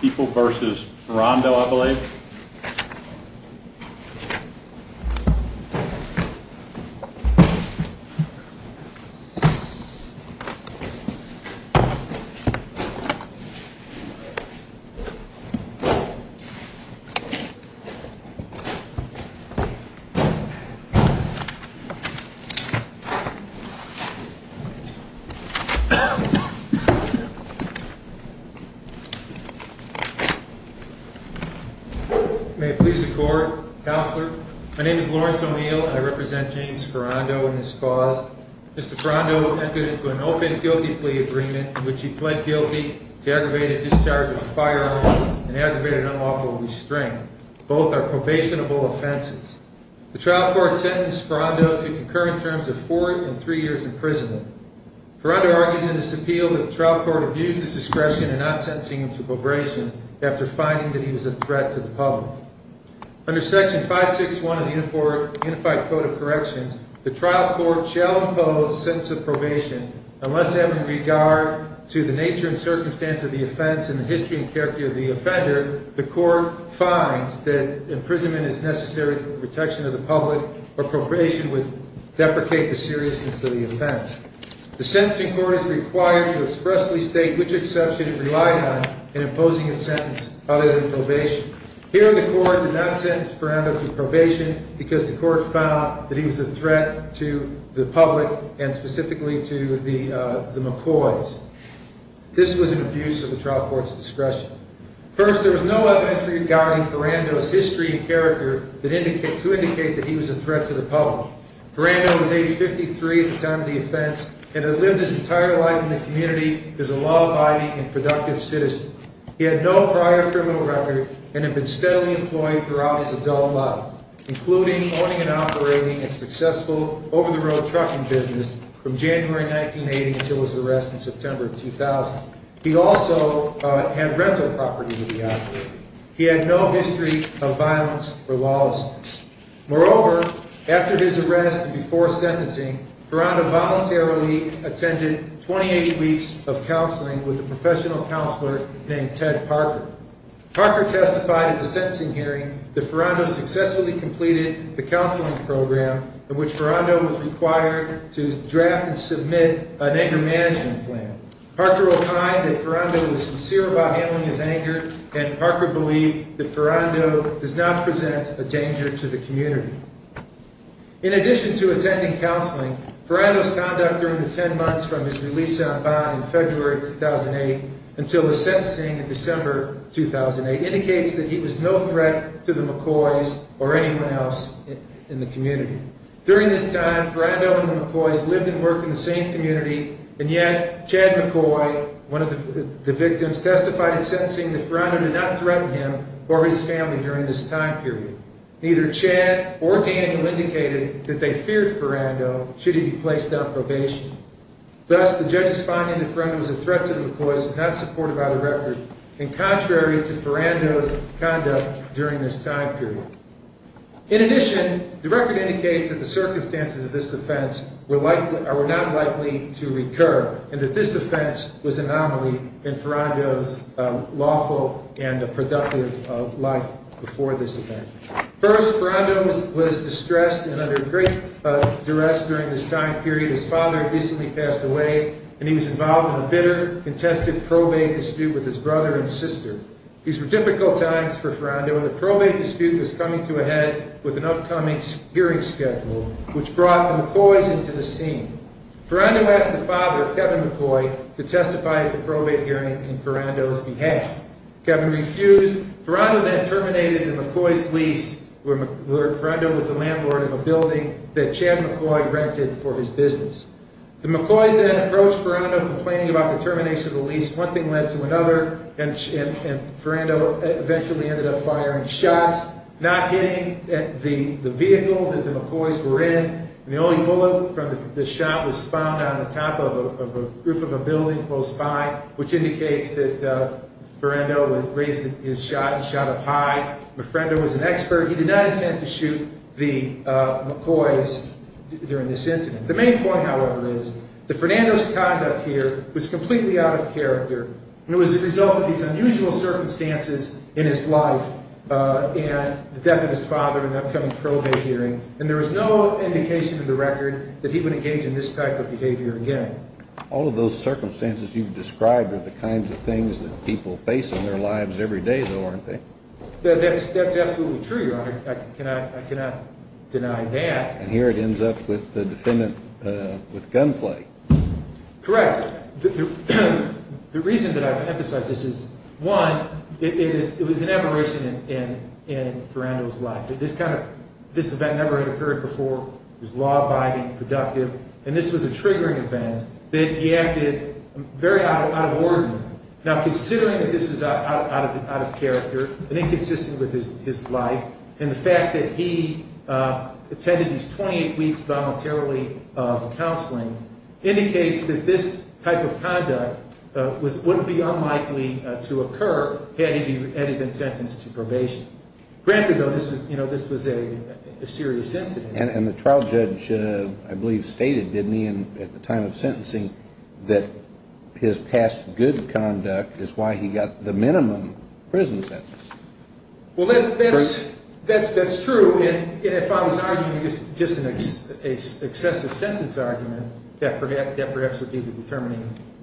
people versus Rondo I believe May it please the court. Counselor, my name is Lawrence O'Neill and I represent James Ferando in this cause. Mr. Ferando entered into an open guilty plea agreement in which he pled guilty to aggravated discharge of a firearm and aggravated unlawful restraint. Both are probationable offenses. The trial court sentenced Ferando to concurrent terms of four and three years in prison. Ferando argues in his appeal that the trial court abused his discretion in not sentencing him to probation after finding that he was a threat to the public. Under Section 561 of the Unified Code of Corrections, the trial court shall impose a sentence of probation unless, having regard to the nature and circumstance of the offense and the history and character of the offender, the court finds that imprisonment is necessary for the protection of the public or appropriation would deprecate the seriousness of the offense. The sentencing court is required to expressly state which exception it relied on in imposing a sentence other than probation. Here the court did not sentence Ferando to probation because the court found that he was a threat to the public and specifically to the McCoys. This was an abuse of the trial court's discretion. First, there was no evidence regarding Ferando's history and character to indicate that he was a threat to the public. Ferando was age 53 at the time of the offense and had lived his entire life in the community as a law-abiding and productive citizen. He had no prior criminal record and had been steadily employed throughout his adult life, including owning and operating a successful over-the-road trucking business from January 1980 until his arrest in September 2000. He also had rental property to be operated. He had no history of violence or lawlessness. Moreover, after his arrest and before sentencing, Ferando voluntarily attended 28 weeks of counseling with a professional counselor named Ted Parker. Parker testified at the sentencing hearing that Ferando successfully completed the counseling program in which Ferando was required to draft and submit an anger management plan. Parker opined that Ferando was sincere about handling his anger and Parker believed that Ferando does not present a danger to the community. In addition to attending counseling, Ferando's conduct during the 10 months from his release on bond in February 2008 until the sentencing in December 2008 indicates that he was no threat to the McCoys or anyone else in the community. During this time, Ferando and the McCoys lived and worked in the same community, and yet Chad McCoy, one of the victims, testified at sentencing that Ferando did not threaten him or his family during this time period. Neither Chad or Daniel indicated that they feared Ferando should he be placed on probation. Thus, the judges find that Ferando is a threat to the McCoys and not supportive of the record and contrary to Ferando's conduct during this time period. In addition, the record indicates that the circumstances of this offense were not likely to recur and that this offense was an anomaly in Ferando's lawful and productive life before this event. First, Ferando was distressed and under great duress during this time period. His father had recently passed away and he was involved in a bitter, contested probate dispute with his brother and sister. These were difficult times for Ferando and the probate dispute was coming to a head with an upcoming hearing schedule which brought the McCoys into the scene. Ferando asked the father, Kevin McCoy, to testify at the probate hearing in Ferando's behalf. Kevin refused. Ferando then terminated the McCoys' lease where Ferando was the landlord of a building that Chad McCoy rented for his business. The McCoys then approached Ferando complaining about the termination of the lease. One thing led to another and Ferando eventually ended up firing shots, not hitting the vehicle that the McCoys were in. The only bullet from the shot was found on the top of a roof of a building close by, which indicates that Ferando raised his shot and shot up high. Ferando was an expert. He did not intend to shoot the McCoys during this incident. The main point, however, is that Ferando's conduct here was completely out of character. It was the result of these unusual circumstances in his life and the death of his father and the upcoming probate hearing. There was no indication in the record that he would engage in this type of behavior again. All of those circumstances you've described are the kinds of things that people face in their lives every day, though, aren't they? That's absolutely true, Your Honor. I cannot deny that. And here it ends up with the defendant with gunplay. Correct. The reason that I've emphasized this is, one, it was an aberration in Ferando's life. This event never had occurred before. It was law-abiding, productive, and this was a triggering event. He acted very out of order. Now, considering that this is out of character and inconsistent with his life, and the fact that he attended these 28 weeks voluntarily of counseling indicates that this type of conduct wouldn't be unlikely to occur had he been sentenced to probation. Granted, though, this was a serious incident. And the trial judge, I believe, stated, didn't he, at the time of sentencing that his past good conduct is why he got the minimum prison sentence. Well, that's true. And if I was arguing just an excessive sentence argument, that perhaps would be the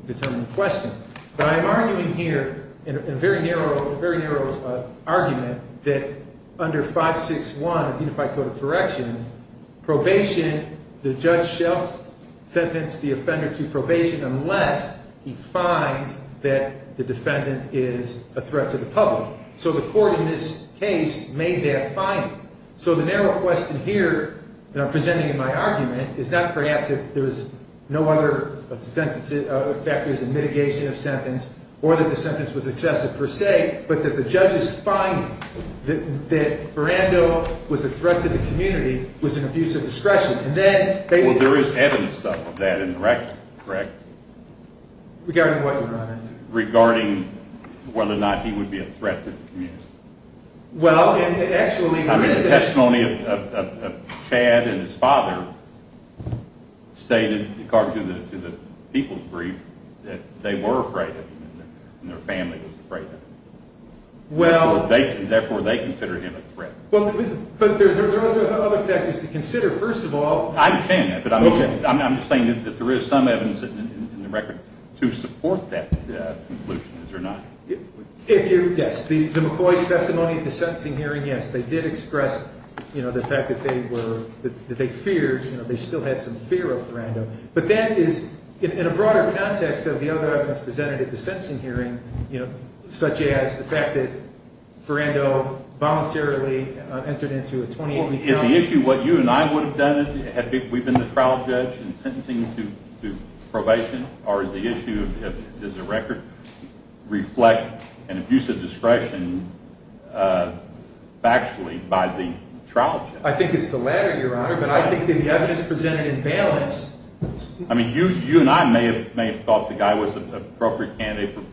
determining question. But I'm arguing here in a very narrow argument that under 561 of the Unified Code of Correction, probation, the judge shall sentence the offender to probation unless he finds that the defendant is a threat to the public. So the court in this case made that finding. So the narrow question here that I'm presenting in my argument is not perhaps if there was no other factors in mitigation of sentence or that the sentence was excessive per se, but that the judges find that Ferrando was a threat to the community, was an abuse of discretion. Well, there is evidence of that in the record, correct? Regarding what, Your Honor? Regarding whether or not he would be a threat to the community. I mean, the testimony of Chad and his father stated, according to the people's brief, that they were afraid of him and their family was afraid of him. Therefore, they consider him a threat. But there are other factors to consider, first of all. I understand that, but I'm just saying that there is some evidence in the record to support that conclusion, is there not? Yes. The McCoy's testimony at the sentencing hearing, yes, they did express the fact that they feared. They still had some fear of Ferrando. But that is in a broader context of the other evidence presented at the sentencing hearing, such as the fact that Ferrando voluntarily entered into a 28-week felony. Is the issue what you and I would have done, had we been the trial judge in sentencing to probation? Or is the issue, does the record reflect an abuse of discretion factually by the trial judge? I think it's the latter, Your Honor, but I think the evidence presented in bail is… I mean, you and I may have thought the guy was an appropriate candidate for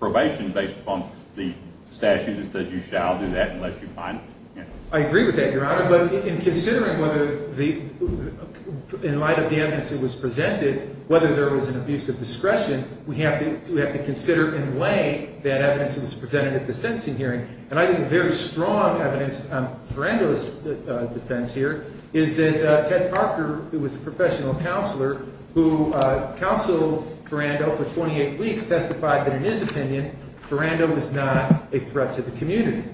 probation based upon the statute that says you shall do that unless you find it. I agree with that, Your Honor, but in considering whether the – in light of the evidence that was presented, whether there was an abuse of discretion, we have to consider in lay that evidence that was presented at the sentencing hearing. And I think a very strong evidence on Ferrando's defense here is that Ted Parker, who was a professional counselor who counseled Ferrando for 28 weeks, testified that in his opinion Ferrando was not a threat to the community.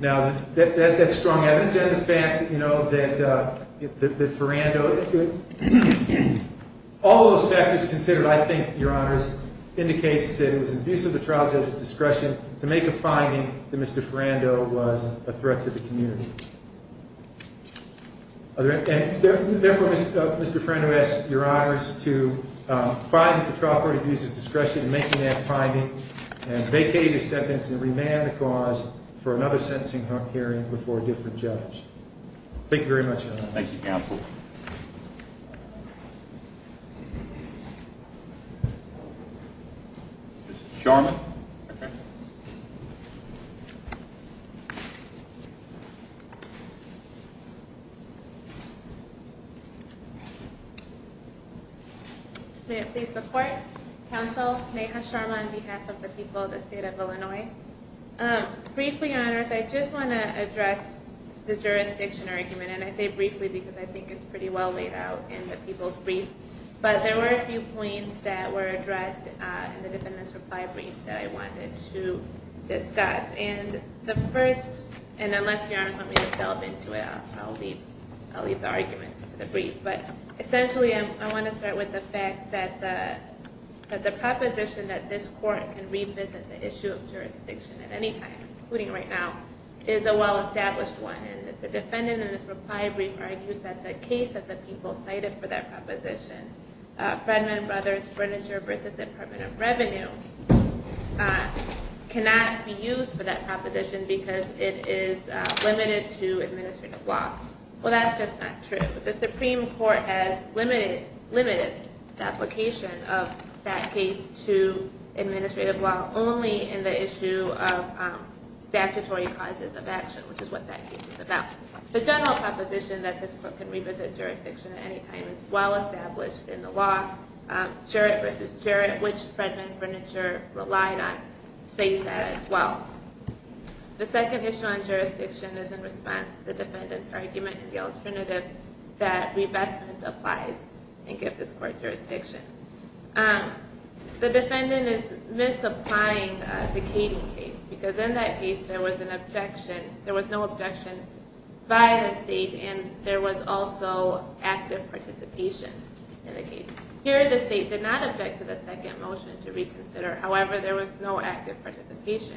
Now, that's strong evidence. And the fact that, you know, that Ferrando – all of those factors considered, I think, Your Honors, indicates that it was an abuse of the trial judge's discretion to make a finding that Mr. Ferrando was a threat to the community. Therefore, Mr. Ferrando asks Your Honors to find that the trial court abused his discretion in making that finding and vacate his sentence and remand the cause for another sentencing hearing before a different judge. Thank you very much, Your Honor. Thank you, counsel. Mr. Charman. Okay. May it please the court? Counsel Neha Charman on behalf of the people of the state of Illinois. Briefly, Your Honors, I just want to address the jurisdiction argument. And I say briefly because I think it's pretty well laid out in the people's brief. But there were a few points that were addressed in the defendant's reply brief that I wanted to discuss. And the first – and unless Your Honors want me to delve into it, I'll leave the arguments to the brief. But essentially, I want to start with the fact that the proposition that this court can revisit the issue of jurisdiction at any time, including right now, is a well-established one. And the defendant in his reply brief argues that the case that the people cited for that proposition, Fredman Brothers Furniture v. Department of Revenue, cannot be used for that proposition because it is limited to administrative law. Well, that's just not true. The Supreme Court has limited the application of that case to administrative law only in the issue of statutory causes of action, which is what that case is about. The general proposition that this court can revisit jurisdiction at any time is well-established in the law. Jarrett v. Jarrett, which Fredman Furniture relied on, states that as well. The second issue on jurisdiction is in response to the defendant's argument in the alternative that revestment applies and gives this court jurisdiction. The defendant is misapplying the Kading case because in that case, there was no objection by the state and there was also active participation in the case. Here, the state did not object to the second motion to reconsider. However, there was no active participation.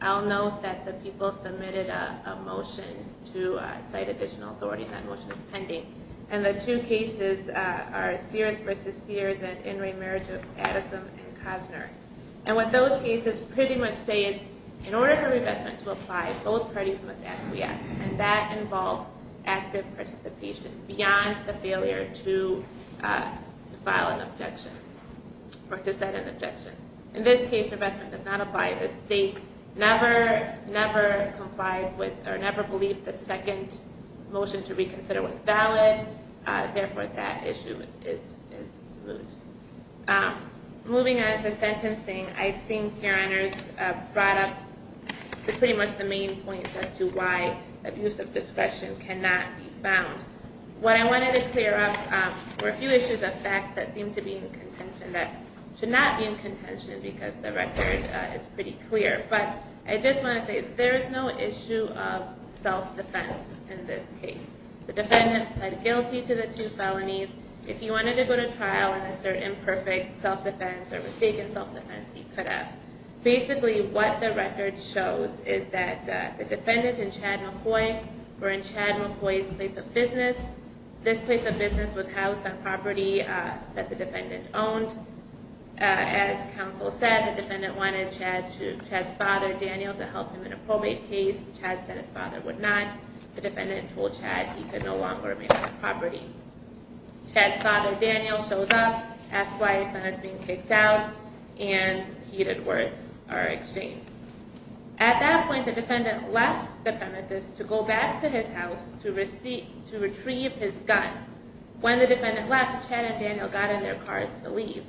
I'll note that the people submitted a motion to cite additional authority. That motion is pending. The two cases are Sears v. Sears and In re Merit of Addison v. Cosner. What those cases pretty much say is in order for revestment to apply, both parties must acquiesce. That involves active participation beyond the failure to file an objection or to set an objection. In this case, revestment does not apply. The state never believed the second motion to reconsider was valid. Therefore, that issue is removed. Moving on to sentencing, I think your honors brought up pretty much the main points as to why abuse of discretion cannot be found. What I wanted to clear up were a few issues of fact that seem to be in contention that should not be in contention because the record is pretty clear. I just want to say there is no issue of self-defense in this case. The defendant pled guilty to the two felonies. If you wanted to go to trial and assert imperfect self-defense or mistaken self-defense, you could have. Basically, what the record shows is that the defendant and Chad McCoy were in Chad McCoy's place of business. This place of business was housed on property that the defendant owned. As counsel said, the defendant wanted Chad's father, Daniel, to help him in a probate case. Chad said his father would not. The defendant told Chad he could no longer remain on the property. Chad's father, Daniel, shows up, asks why his son is being kicked out, and heated words are exchanged. At that point, the defendant left the premises to go back to his house to retrieve his gun. When the defendant left, Chad and Daniel got in their cars to leave.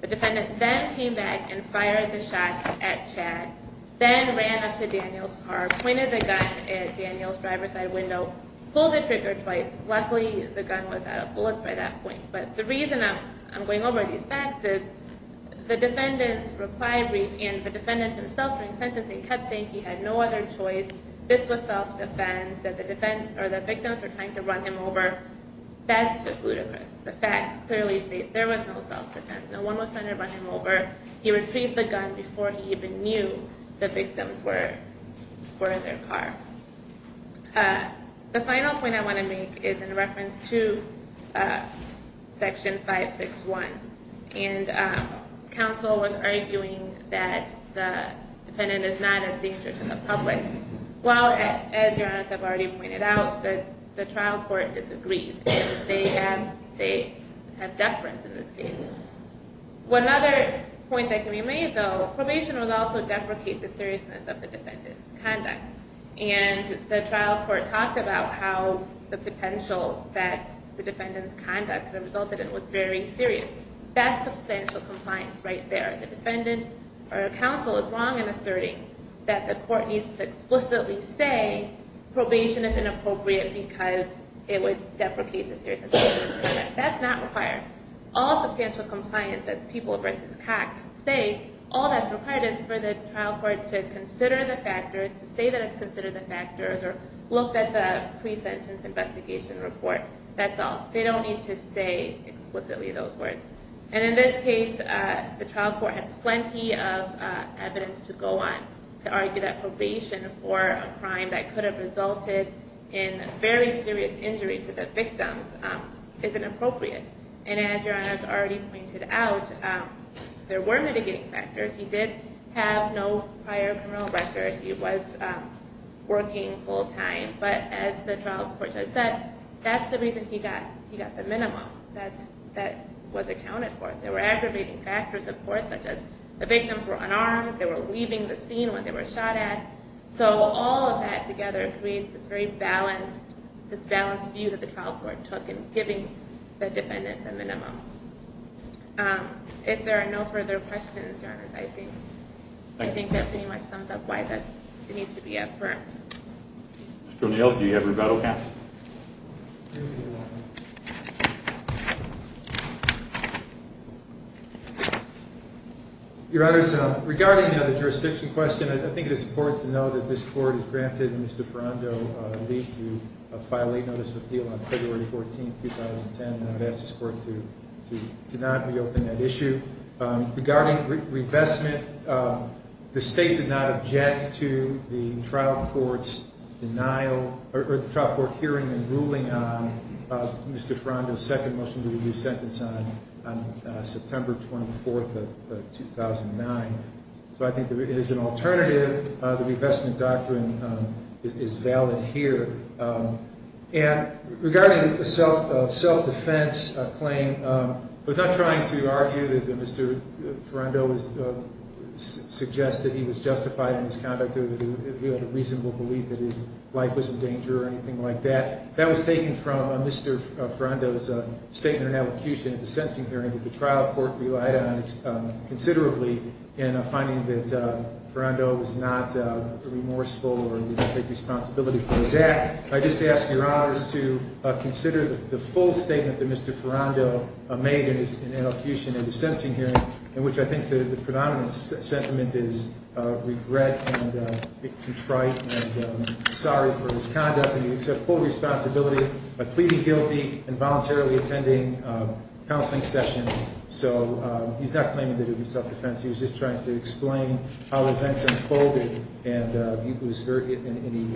The defendant then came back and fired the shot at Chad, then ran up to Daniel's car, pointed the gun at Daniel's driver's side window, pulled the trigger twice. Luckily, the gun was out of bullets by that point. But the reason I'm going over these facts is the defendants' reply brief and the defendant himself during sentencing kept saying he had no other choice, this was self-defense, that the victims were trying to run him over. That's just ludicrous. The facts clearly state there was no self-defense. No one was trying to run him over. He retrieved the gun before he even knew the victims were in their car. The final point I want to make is in reference to Section 561. And counsel was arguing that the defendant is not a danger to the public. Well, as Your Honor has already pointed out, the trial court disagreed. They have deference in this case. One other point that can be made, though, probation would also deprecate the seriousness of the defendant's conduct. And the trial court talked about how the potential that the defendant's conduct resulted in was very serious. That's substantial compliance right there. The defendant or counsel is wrong in asserting that the court needs to explicitly say probation is inappropriate because it would deprecate the seriousness of the conduct. That's not required. All substantial compliance, as People v. Cox say, all that's required is for the trial court to consider the factors, to say that it's considered the factors, or look at the pre-sentence investigation report. That's all. They don't need to say explicitly those words. And in this case, the trial court had plenty of evidence to go on to argue that probation for a crime that could have resulted in very serious injury to the victims isn't appropriate. And as Your Honor has already pointed out, there were mitigating factors. He did have no prior criminal record. He was working full-time. But as the trial court judge said, that's the reason he got the minimum that was accounted for. There were aggravating factors, of course, such as the victims were unarmed. They were leaving the scene when they were shot at. So all of that together creates this very balanced view that the trial court took in giving the defendant the minimum. If there are no further questions, Your Honors, I think that pretty much sums up why that needs to be affirmed. Mr. O'Neill, do you have rebuttal? Yes. Your Honor, regarding the jurisdiction question, I think it is important to note that this court has granted Mr. Ferrando a leave to file a notice of appeal on February 14, 2010. And I would ask this court to not reopen that issue. Regarding revestment, the State did not object to the trial court's hearing and ruling on Mr. Ferrando's second motion to review sentence on September 24, 2009. So I think there is an alternative. The revestment doctrine is valid here. And regarding the self-defense claim, I was not trying to argue that Mr. Ferrando suggested he was justified in his conduct or that he had a reasonable belief that his life was in danger or anything like that. That was taken from Mr. Ferrando's statement in ad hocution at the sentencing hearing that the trial court relied on considerably in finding that Ferrando was not remorseful or did not take responsibility for his act. I just ask Your Honors to consider the full statement that Mr. Ferrando made in ad hocution at the sentencing hearing, in which I think the predominant sentiment is regret and contrite and sorry for his conduct. And he accepted full responsibility by pleading guilty and voluntarily attending counseling sessions. So he's not claiming that it was self-defense. He was just trying to explain how events unfolded. And,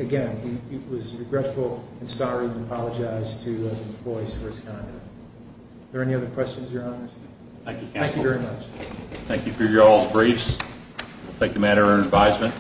again, he was regretful and sorry and apologized to the employees for his conduct. Are there any other questions, Your Honors? Thank you, counsel. Thank you very much. Thank you for y'all's briefs. We'll take a matter under advisement.